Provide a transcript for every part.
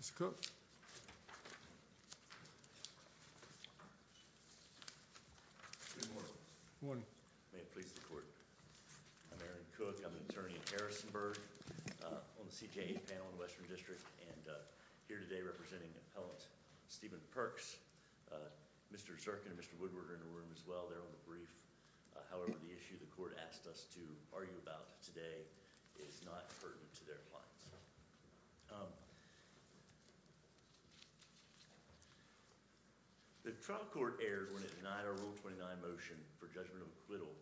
Mr. Cook. Good morning. May it please the court. I'm Aaron Cook. I'm an attorney at Harrisonburg on the CJA panel in the Western District and here today representing Appellant Steven Perks. Mr. Zirkin and Mr. Woodward are in the room as well. They're on the brief. However, the trial court erred when it denied our Rule 29 motion for judgment of acquittal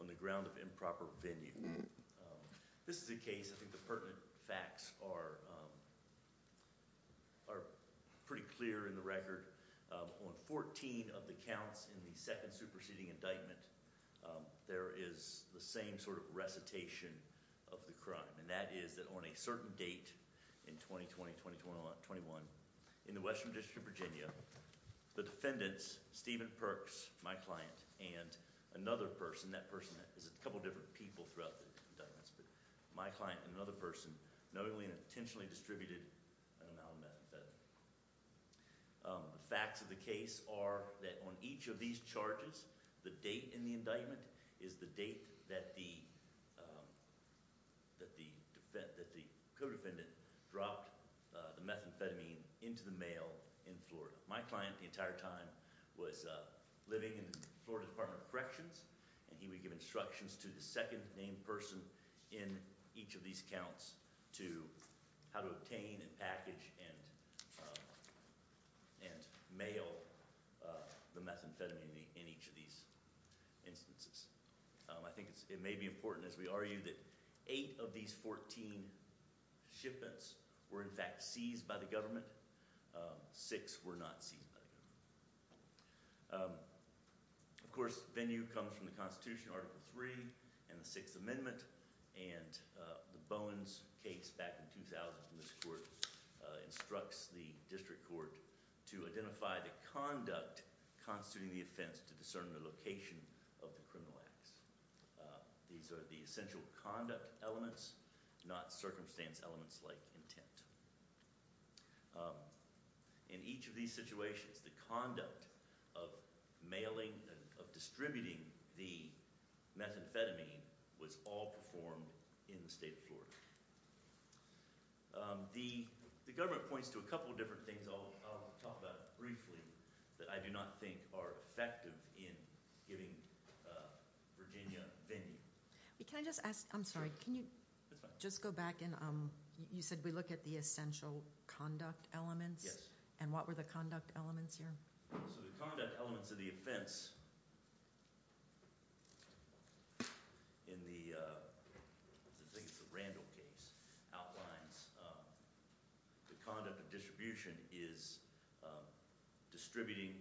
on the ground of improper venue. This is a case, I think the pertinent facts are pretty clear in the record. On 14 of the counts in the second superseding indictment, there is the same sort of recitation of the crime, and that is that on a certain date in 2020-2021 in the Western District of Virginia, the defendants, Steven Perks, my client, and another person, that person is a couple different people throughout the indictments, but my client and another person knowingly and intentionally distributed, I don't know how to say that, the facts of the case are that on each of these charges, the date in the indictment is the date that the co-defendant dropped the methamphetamine into the mail in Florida. My client the entire time was living in the Florida Department of Corrections and he would give instructions to the second named person in each of these counts to how to obtain and package and mail the methamphetamine in each of these instances. I think it may be important as we argue that eight of these 14 shipments were in fact seized by the government, six were not seized by the government. Of course, venue comes from the Constitution, Article 3 and the 6th Amendment and the Bowens case back in 2000 from this court instructs the district court to identify the conduct constituting the offense to discern the location of the criminal acts. These are the essential conduct elements, not circumstance elements like intent. In each of these situations the conduct of mailing, of distributing the methamphetamine was all performed in the state court. The government points to a couple of different things, I'll talk about it briefly, that I do not think are effective in giving Virginia venue. Can I just ask, I'm sorry, can you just go back in, you said we look at the essential conduct elements? Yes. And what were the conduct elements here? So the conduct elements of the offense in the, I think it's the rape case, the rape case, the Randall case, outlines the conduct of distribution is distributing,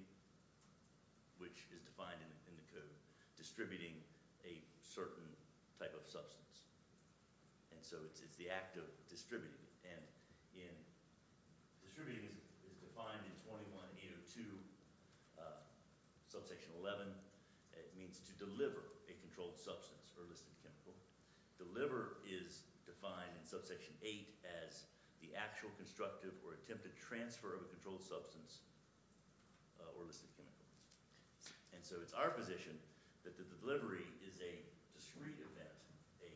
which is defined in the code, distributing a certain type of substance. And so it's the act of distributing. And distributing is defined in 21802, subsection 11, it means to deliver a controlled substance or listed chemical. Deliver is defined in subsection 8 as the actual constructive or attempted transfer of a controlled substance or listed chemical. And so it's our position that the delivery is a discrete event, a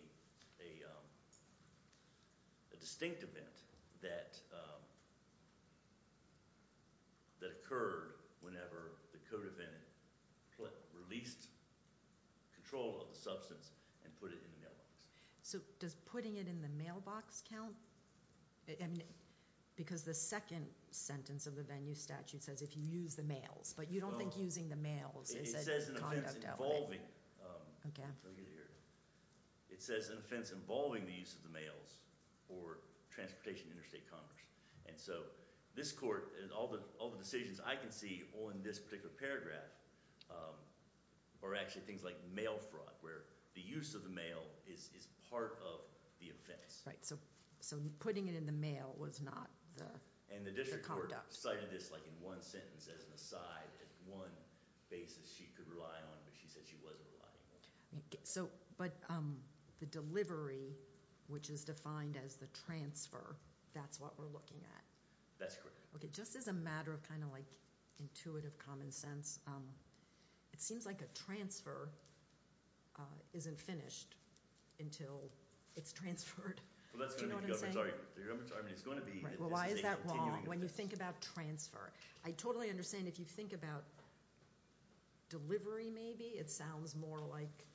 distinct event that occurred whenever the co-defendant released control of the substance and put it in the mailbox. So does putting it in the mailbox count? Because the second sentence of the venue statute says if you use the mails, but you don't think using the mails is a conduct element. It says an offense involving, it says an offense involving the use of the mails for transportation interstate commerce. And so this court, all the decisions I can see on this particular paragraph are actually things like mail fraud, where the use of the mail is part of the offense. Right, so putting it in the mail was not the conduct. And the district court cited this like in one sentence as an aside, as one basis she could rely on, but she said she wasn't relying on it. So, but the delivery, which is defined as the transfer, that's what we're looking at. Just as a matter of kind of like intuitive common sense, it seems like a transfer isn't finished until it's transferred. Do you know what I'm saying? Well, that's going to be the government's argument. Well, why is that wrong when you think about transfer? I totally understand if you think about delivery maybe, it sounds more like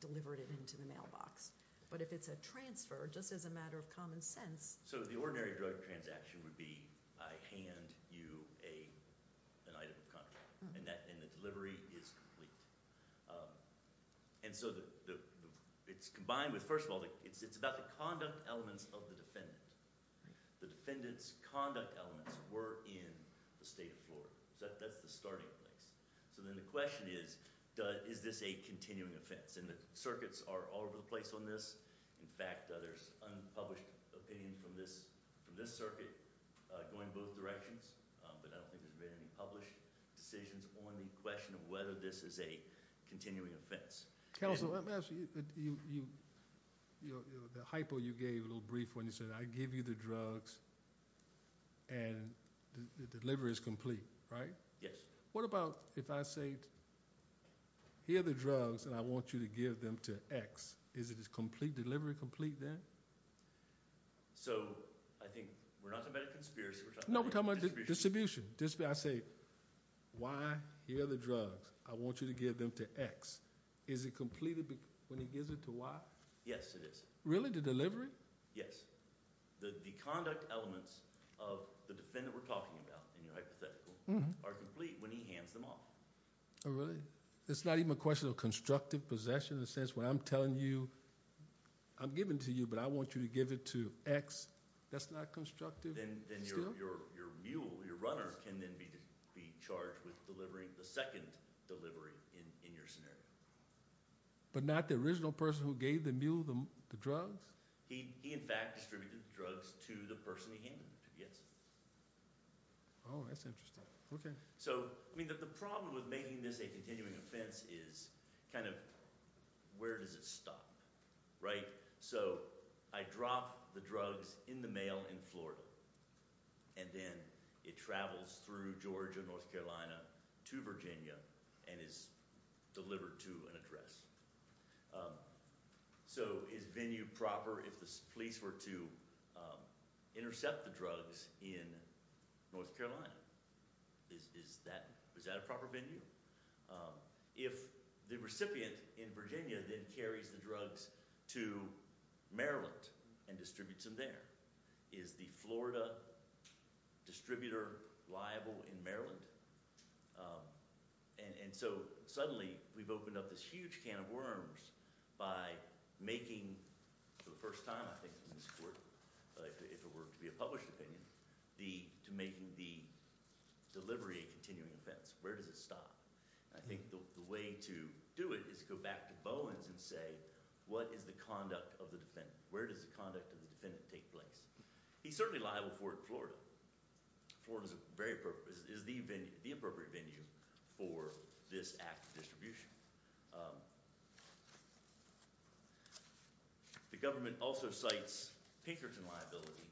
delivered it into the mailbox. But if it's a transfer, just as a matter of common sense. So the ordinary drug transaction would be, I hand you an item of contract, and the delivery is complete. And so it's combined with, first of all, it's about the conduct elements of the defendant. The defendant's conduct elements were in the state of Florida. So that's the starting place. So then the question is, is this a continuing offense? And the circuits are all over the place on this. In fact, there's unpublished opinion from this circuit going both directions. But I don't think there's been any published decisions on the question of whether this is a continuing offense. Counsel, the hypo you gave a little brief when you said, I give you the drugs, and the delivery is complete, right? Yes. What about if I say, here are the drugs, and I want you to give them to X. Is the delivery complete then? So I think we're not talking about a conspiracy. No, we're talking about distribution. I say, Y, here are the drugs. I want you to give them to X. Is it complete when he gives it to Y? Yes, it is. Really, the delivery? Yes. The conduct elements of the defendant we're talking about in your hypothetical are complete when he hands them off. Oh, really? It's not even a question of constructive possession in the sense where I'm telling you, I'm giving to you, but I want you to give it to X. That's not constructive? Your mule, your runner, can then be charged with delivering the second delivery in your scenario. But not the original person who gave the mule the drugs? He, in fact, distributed the drugs to the person he handed them to, yes. Oh, that's interesting. Okay. So, I mean, the problem with making this a continuing offense is kind of, where does it stop, right? So, I drop the drugs in the mail in Florida, and then it travels through Georgia, North Carolina, to Virginia, and is delivered to an address. So, is venue proper if the police were to intercept the drugs in North Carolina? Is that a proper venue? If the recipient in Virginia then carries the drugs to Maryland and distributes them there, is the Florida distributor liable in Maryland? And so, suddenly, we've opened up this huge can of worms by making, for the first time, I think, in this court, if it were to be a published opinion, to making the delivery a continuing offense, where does it stop? And I think the way to do it is to go back to Bowens and say, what is the conduct of the defendant? Where does the conduct of the defendant take place? He's certainly liable for it in Florida. Florida is the appropriate venue for this act of distribution. The government also cites Pinkerton liability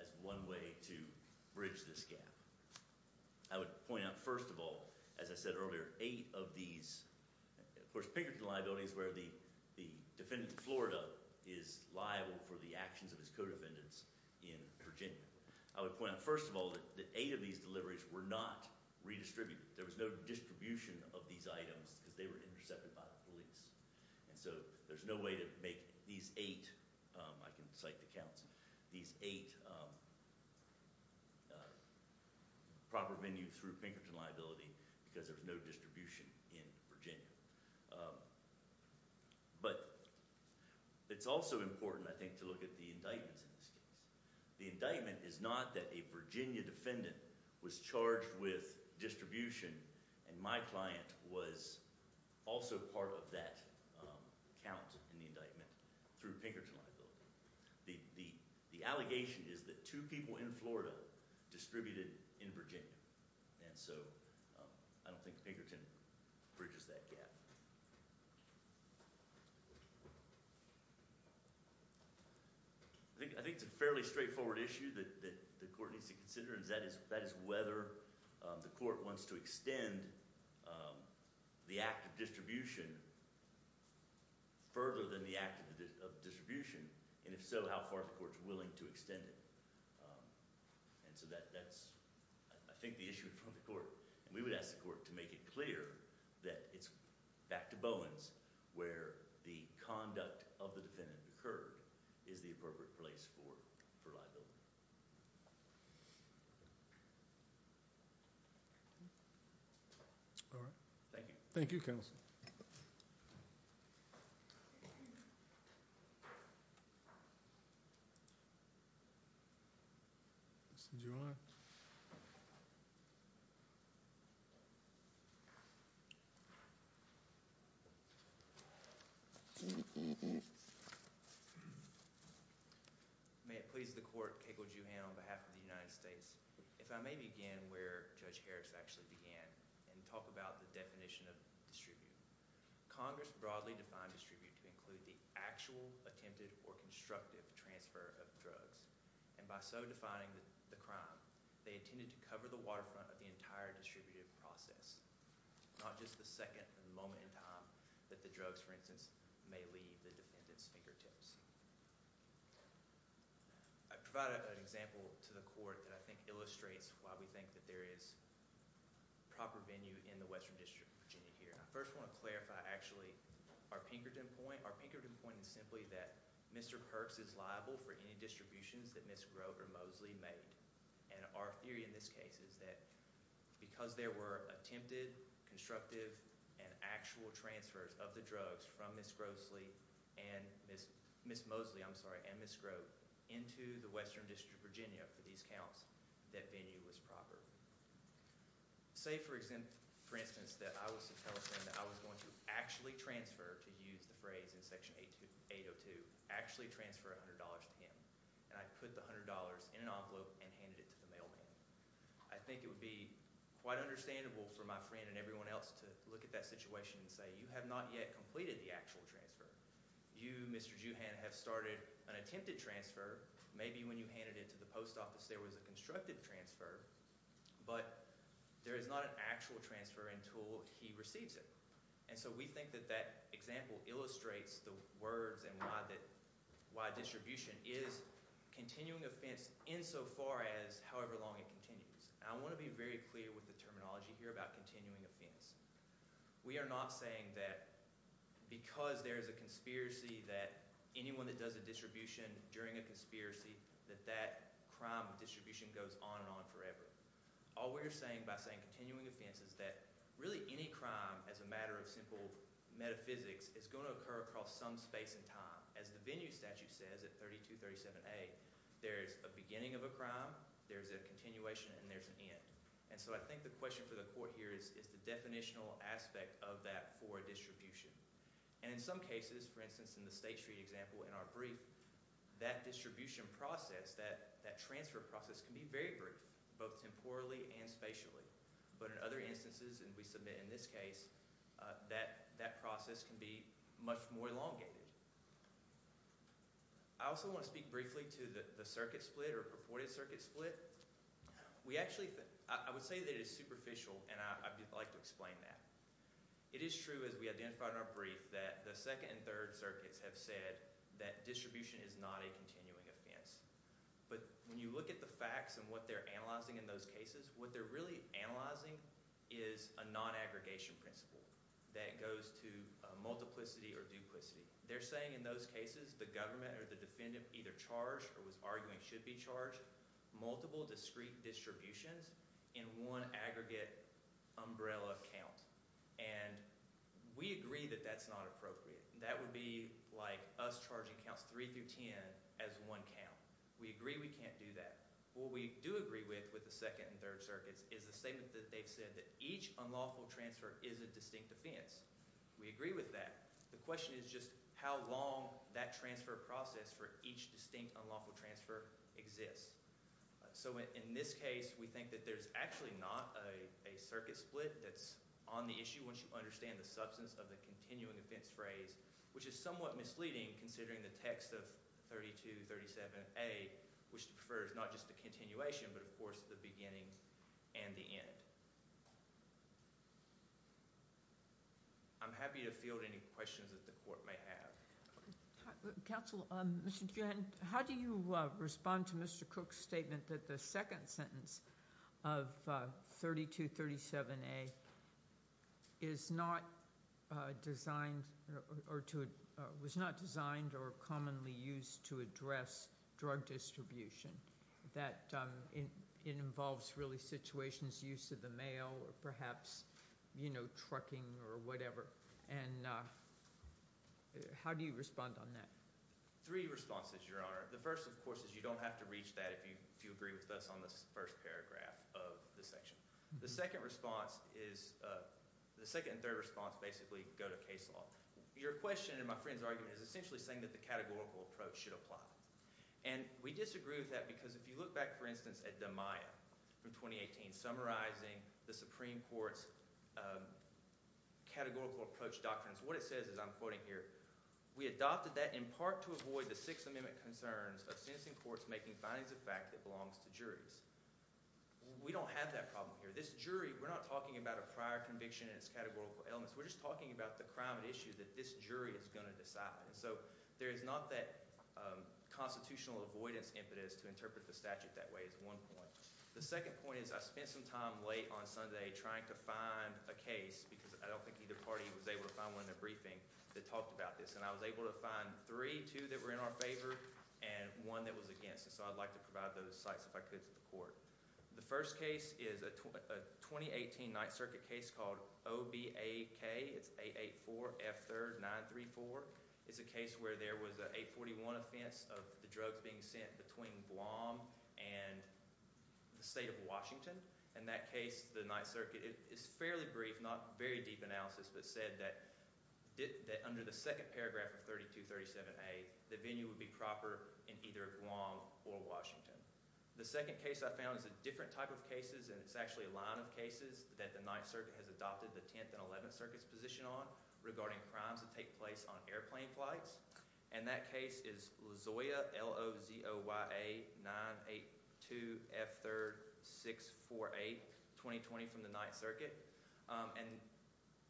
as one way to bridge this gap. I would point out, first of all, as I said earlier, eight of these, of course Pinkerton liability is where the defendant in Florida is liable for the actions of his co-defendants in Virginia. I would point out, first of all, that eight of these deliveries were not redistributed. There was no distribution of these items because they were intercepted by the police. And so there's no way to make these eight, I can cite the counts, these eight proper venues through Pinkerton liability because there's no distribution in Virginia. But it's also important, I think, to look at the indictments in this case. The indictment is not that a Virginia defendant was charged with distribution and my client was also part of that count in the indictment through Pinkerton liability. The allegation is that two people in Florida distributed in Virginia. And so I don't think Pinkerton bridges that gap. I think it's a fairly straightforward issue that the court needs to consider and that is whether the court wants to extend the act of distribution further than the act of distribution and if so, how far the court is willing to extend it. And so that's, I think, the issue in front of the court. And we would ask the court to make it clear that it's back to Bowens where the conduct of the defendant occurred is the appropriate place for liability. All right. Thank you. Thank you, counsel. Mr. Giroir. May it please the court, Keiko Giroir on behalf of the United States. If I may begin where Judge Harris actually began and talk about the definition of distribute. Congress broadly defined distribute to include the actual attempted or constructive transfer of drugs. And by so defining the crime, they intended to cover the waterfront of the entire distributed process, not just the second moment in time that the drugs, for instance, may leave the defendant's fingertips. I provide an example to the court that I think illustrates why we think that there is proper venue in the Western District of Virginia here. I first want to clarify actually our Pinkerton point. Our Pinkerton point is simply that Mr. Perks is liable for any distributions that Ms. Groves or Mosley made. And our theory in this case is that because there were attempted, constructive, and actual Ms. Mosley, I'm sorry, and Ms. Grove into the Western District of Virginia for these counts, that venue was proper. Say, for instance, that I was to tell a friend that I was going to actually transfer, to use the phrase in Section 802, actually transfer $100 to him. And I put the $100 in an envelope and handed it to the mailman. I think it would be quite understandable for my friend and everyone else to look at that situation and say, you have not yet completed the actual transfer. You, Mr. Juhan, have started an attempted transfer. Maybe when you handed it to the post office there was a constructive transfer, but there is not an actual transfer until he receives it. And so we think that that example illustrates the words and why distribution is continuing offense insofar as however long it continues. And I want to be very clear with the terminology here about continuing offense. We are not saying that because there is a conspiracy that anyone that does a distribution during a conspiracy, that that crime distribution goes on and on forever. All we're saying by saying continuing offense is that really any crime as a matter of simple metaphysics is going to occur across some space in time. As the venue statute says at 3237A, there's a beginning of a crime, there's a continuation, and there's an end. And so I think the question for the court here is the definitional aspect of that for a distribution. And in some cases, for instance in the State Street example in our brief, that distribution process, that transfer process can be very brief, both temporally and spatially. But in other instances, and we submit in this case, that process can be much more elongated. I also want to speak briefly to the circuit split or purported circuit split. We actually, I would say that it is superficial, and I'd like to explain that. It is true, as we identified in our brief, that the second and third circuits have said that distribution is not a continuing offense. But when you look at the facts and what they're analyzing in those cases, what they're really analyzing is a non-aggregation principle that goes to multiplicity or duplicity. They're saying in those cases the government or the defendant either charged or was arguing should be charged multiple discrete distributions in one aggregate umbrella count. And we agree that that's not appropriate. That would be like us charging counts three through ten as one count. We agree we can't do that. What we do agree with with the second and third circuits is the statement that they've said that each unlawful transfer is a distinct offense. We agree with that. The question is just how long that transfer process for each distinct unlawful transfer exists. So in this case, we think that there's actually not a circuit split that's on the issue once you understand the substance of the continuing offense phrase, which is somewhat misleading considering the text of 3237A, which refers not just to continuation but, of course, the beginning and the end. I'm happy to field any questions that the court may have. Counsel, Mr. Dugan, how do you respond to Mr. Cook's statement that the second sentence of 3237A is not designed or was not designed or commonly used to address drug distribution, that it involves really situations used to the mail or perhaps trucking or whatever? How do you respond on that? Three responses, Your Honor. The first, of course, is you don't have to reach that if you agree with us on the first paragraph of the section. The second response is – the second and third response basically go to case law. Your question and my friend's argument is essentially saying that the categorical approach should apply. We disagree with that because if you look back, for instance, at Damaya from 2018 summarizing the Supreme Court's categorical approach doctrines, what it says is – I'm quoting here – we adopted that in part to avoid the Sixth Amendment concerns of sentencing courts making findings of fact that belongs to juries. We don't have that problem here. This jury – we're not talking about a prior conviction and its categorical elements. We're just talking about the crime at issue that this jury is going to decide. There is not that constitutional avoidance impetus to interpret the statute that way is one point. The second point is I spent some time late on Sunday trying to find a case because I don't think either party was able to find one in the briefing that talked about this. I was able to find three, two that were in our favor and one that was against. I'd like to provide those sites if I could to the court. The first case is a 2018 Ninth Circuit case called OBAK. It's 884F3RD934. It's a case where there was an 841 offense of the drugs being sent between Guam and the state of Washington. In that case, the Ninth Circuit – it's fairly brief, not very deep analysis, but said that under the second paragraph of 3237A, the venue would be proper in either Guam or Washington. The second case I found is a different type of cases and it's actually a line of cases that the Ninth Circuit has adopted the Tenth and Eleventh Circuit's position on regarding crimes that take place on airplane flights. That case is LAZOYA, L-O-Z-O-Y-A 982F3RD648, 2020 from the Ninth Circuit.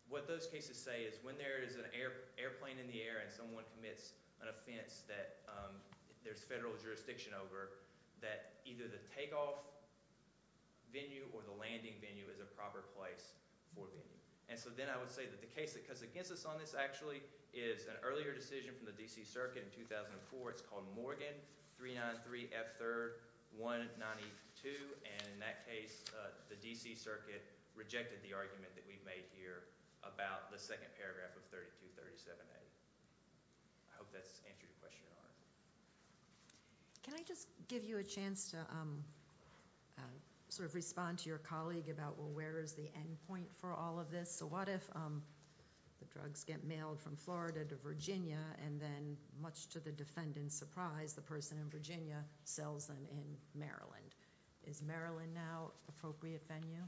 What those cases say is when there is an airplane in the air and someone commits an offense that there's federal jurisdiction over, that either the takeoff venue or the landing venue is a proper place for venue. Then I would say that the case that comes against us on this actually is an earlier decision from the D.C. Circuit in 2004. It's called Morgan 393F3RD192. In that case, the D.C. Circuit rejected the argument that we've made here about the second paragraph of 3237A. I hope that's answered your question, Your Honor. Can I just give you a chance to respond to your colleague about where is the end point for all of this? What if the drugs get mailed from Florida to Virginia and then, much to the defendant's surprise, the person in Virginia sells them in Maryland? Is Maryland now an appropriate venue?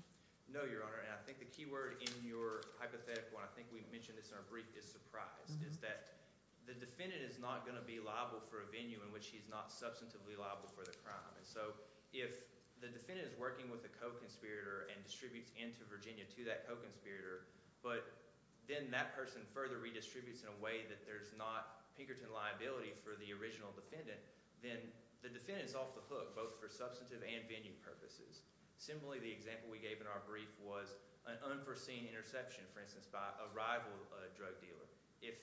No, Your Honor. I think the key word in your hypothetical, and I think we've mentioned this in our brief, is surprise. It's that the defendant is not going to be liable for a venue in which he's not substantively liable for the crime. If the defendant is working with a co-conspirator and distributes into Virginia to that co-conspirator, but then that person further redistributes in a way that there's not Pinkerton liability for the original defendant, then the defendant is off the hook both for substantive and venue purposes. Similarly, the example we gave in our brief was an unforeseen interception, for instance, by a rival drug dealer. If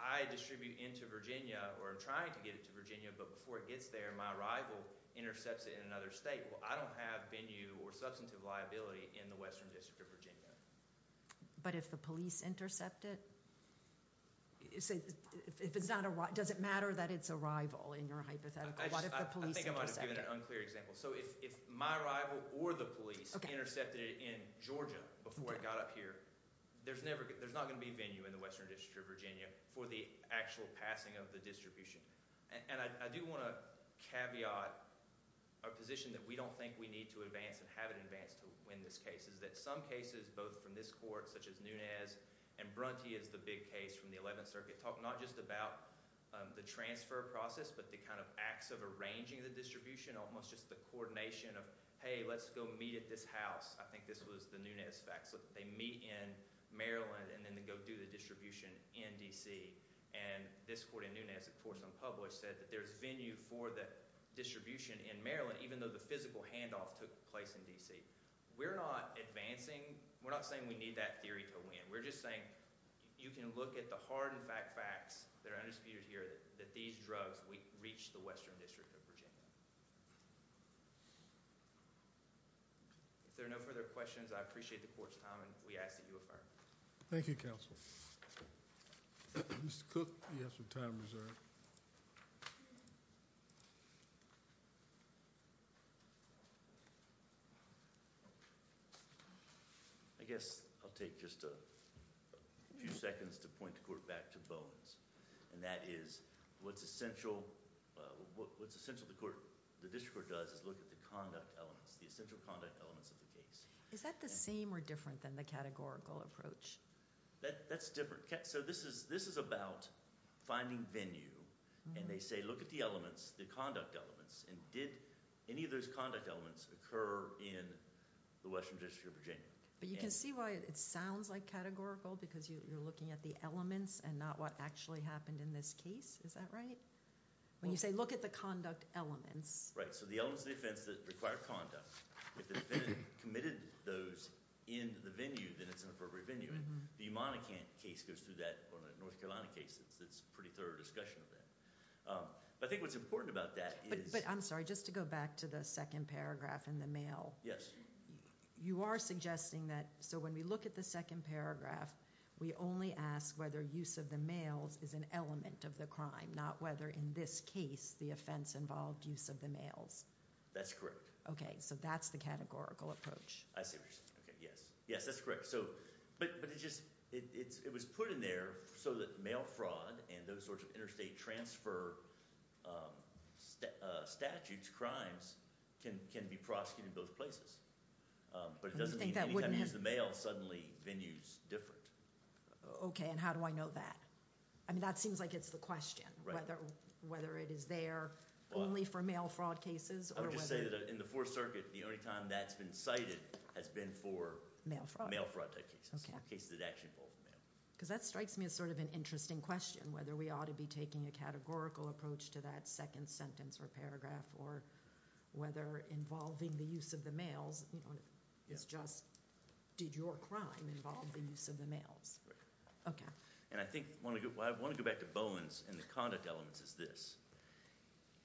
I distribute into Virginia or am trying to get it to Virginia, but before it gets there, my rival intercepts it in another state, well, I don't have venue or substantive liability in the Western District of Virginia. But if the police intercept it? Does it matter that it's a rival in your hypothetical? What if the police intercept it? I think I might have given an unclear example. If my rival or the police intercepted it in Georgia before it got up here, there's not going to be venue in the Western District of Virginia for the actual passing of the distribution. And I do want to caveat a position that we don't think we need to advance and haven't advanced to win this case, is that some cases, both from this court, such as Nunez, and Brunty is the big case from the 11th Circuit, talk not just about the transfer process, but the kind of acts of arranging the distribution, almost just the coordination of, hey, let's go meet at this house. I think this was the Nunez fact slip. They meet in Maryland and then they go do the distribution in D.C. And this court in Nunez, of course unpublished, said that there's venue for the distribution in Maryland, even though the physical handoff took place in D.C. We're not advancing. We're not saying we need that theory to win. We're just saying you can look at the hard and fat facts that are undisputed here that these drugs reach the Western District of Virginia. If there are no further questions, I appreciate the court's time and we ask that you affirm. Thank you, counsel. Mr. Cook, you have some time reserved. I guess I'll take just a few seconds to point the court back to Bones. And that is what's essential, what's essential the court, the district court does is look at the conduct elements, the essential conduct elements of the case. Is that the same or different than the categorical approach? That's different. So this is about finding venue. And they say look at the elements, the conduct elements. And did any of those conduct elements occur in the Western District of Virginia? But you can see why it sounds like categorical because you're looking at the elements and not what actually happened in this case. Is that right? When you say look at the conduct elements. Right. So the elements of the offense that require conduct. If the defendant committed those in the venue, then it's an appropriate venue. And the Monacan case goes through that, or the North Carolina case, it's a pretty thorough discussion of that. But I think what's important about that is. But I'm sorry, just to go back to the second paragraph in the mail. Yes. You are suggesting that, so when we look at the second paragraph, we only ask whether use of the mails is an element of the crime, not whether in this case the offense involved use of the mails. That's correct. Okay. So that's the categorical approach. I see what you're saying. Okay. Yes. Yes, that's correct. But it was put in there so that mail fraud and those sorts of interstate transfer statutes, crimes, can be prosecuted in both places. But it doesn't mean anytime you use the mail, suddenly venue's different. Okay. And how do I know that? I mean, that seems like it's the question. Right. Whether it is there only for mail fraud cases. I would just say that in the Fourth Circuit, the only time that's been cited has been for mail fraud. Mail fraud type cases. Okay. Cases that actually involve mail. Because that strikes me as sort of an interesting question, whether we ought to be taking a categorical approach to that second sentence or paragraph or whether involving the use of the mails is just, did your crime involve the use of the mails? Right. Okay. And I think, I want to go back to Bowen's and the conduct elements is this.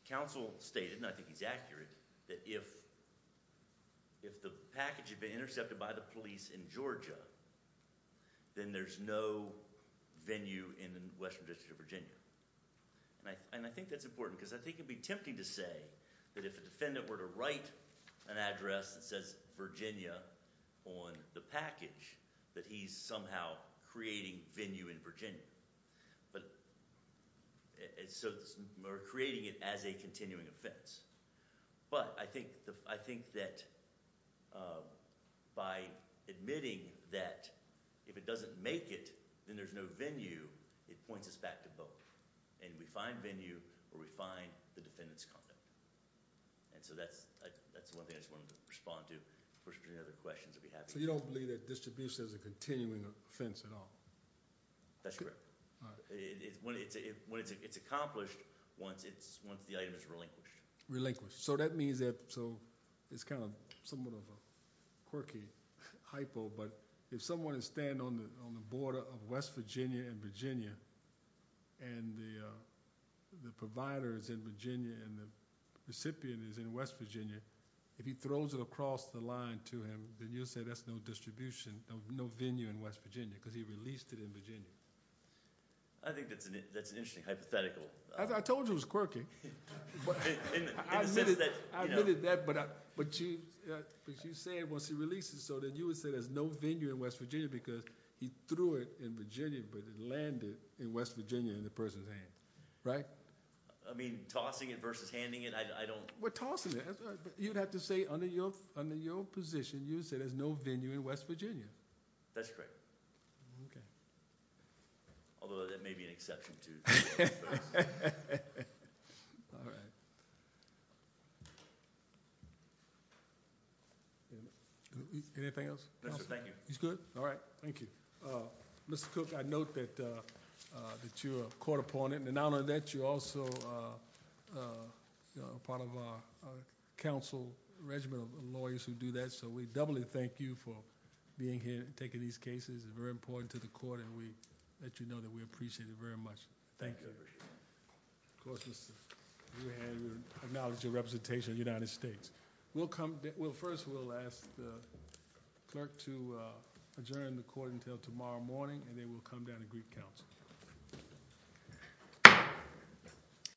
Counsel stated, and I think he's accurate, that if the package had been intercepted by the police in Georgia, then there's no venue in the Western District of Virginia. And I think that's important because I think it would be tempting to say that if a defendant were to write an address that says Virginia on the package, that he's somehow creating venue in Virginia. But, so we're creating it as a continuing offense. But, I think that by admitting that if it doesn't make it, then there's no venue, it points us back to Bowen. And we find venue or we find the defendant's conduct. And so that's one thing I just wanted to respond to. Of course, if there's any other questions that we have... So you don't believe that distribution is a continuing offense at all? That's correct. All right. When it's accomplished, once the item is relinquished. Relinquished. So that means that, so it's kind of somewhat of a quirky hypo, but if someone is staying on the border of West Virginia and Virginia and the provider is in Virginia and the recipient is in West Virginia, if he throws it across the line to him, then you'll say that's no distribution, no venue in West Virginia, because he released it in Virginia. I think that's an interesting hypothetical. I told you it was quirky. In the sense that... I admitted that, but you said once he releases it, so then you would say there's no venue in West Virginia because he threw it in Virginia, but it landed in West Virginia in the person's hands, right? I mean, tossing it versus handing it, I don't... We're tossing it. You'd have to say under your position, you would say there's no venue in West Virginia. That's correct. Okay. Although, that may be an exception to... All right. Anything else? No, sir. Thank you. He's good? All right. Thank you. Mr. Cook, I note that you're a court opponent. In honor of that, you're also part of our council regiment of lawyers who do that, so we doubly thank you for being here and taking these cases. It's very important to the court, and we let you know that we appreciate it very much. Thank you. Of course, Mr.... We acknowledge your representation of the United States. We'll come... Well, first, we'll ask the clerk to adjourn the court until tomorrow morning, and then we'll come down to Greek Council.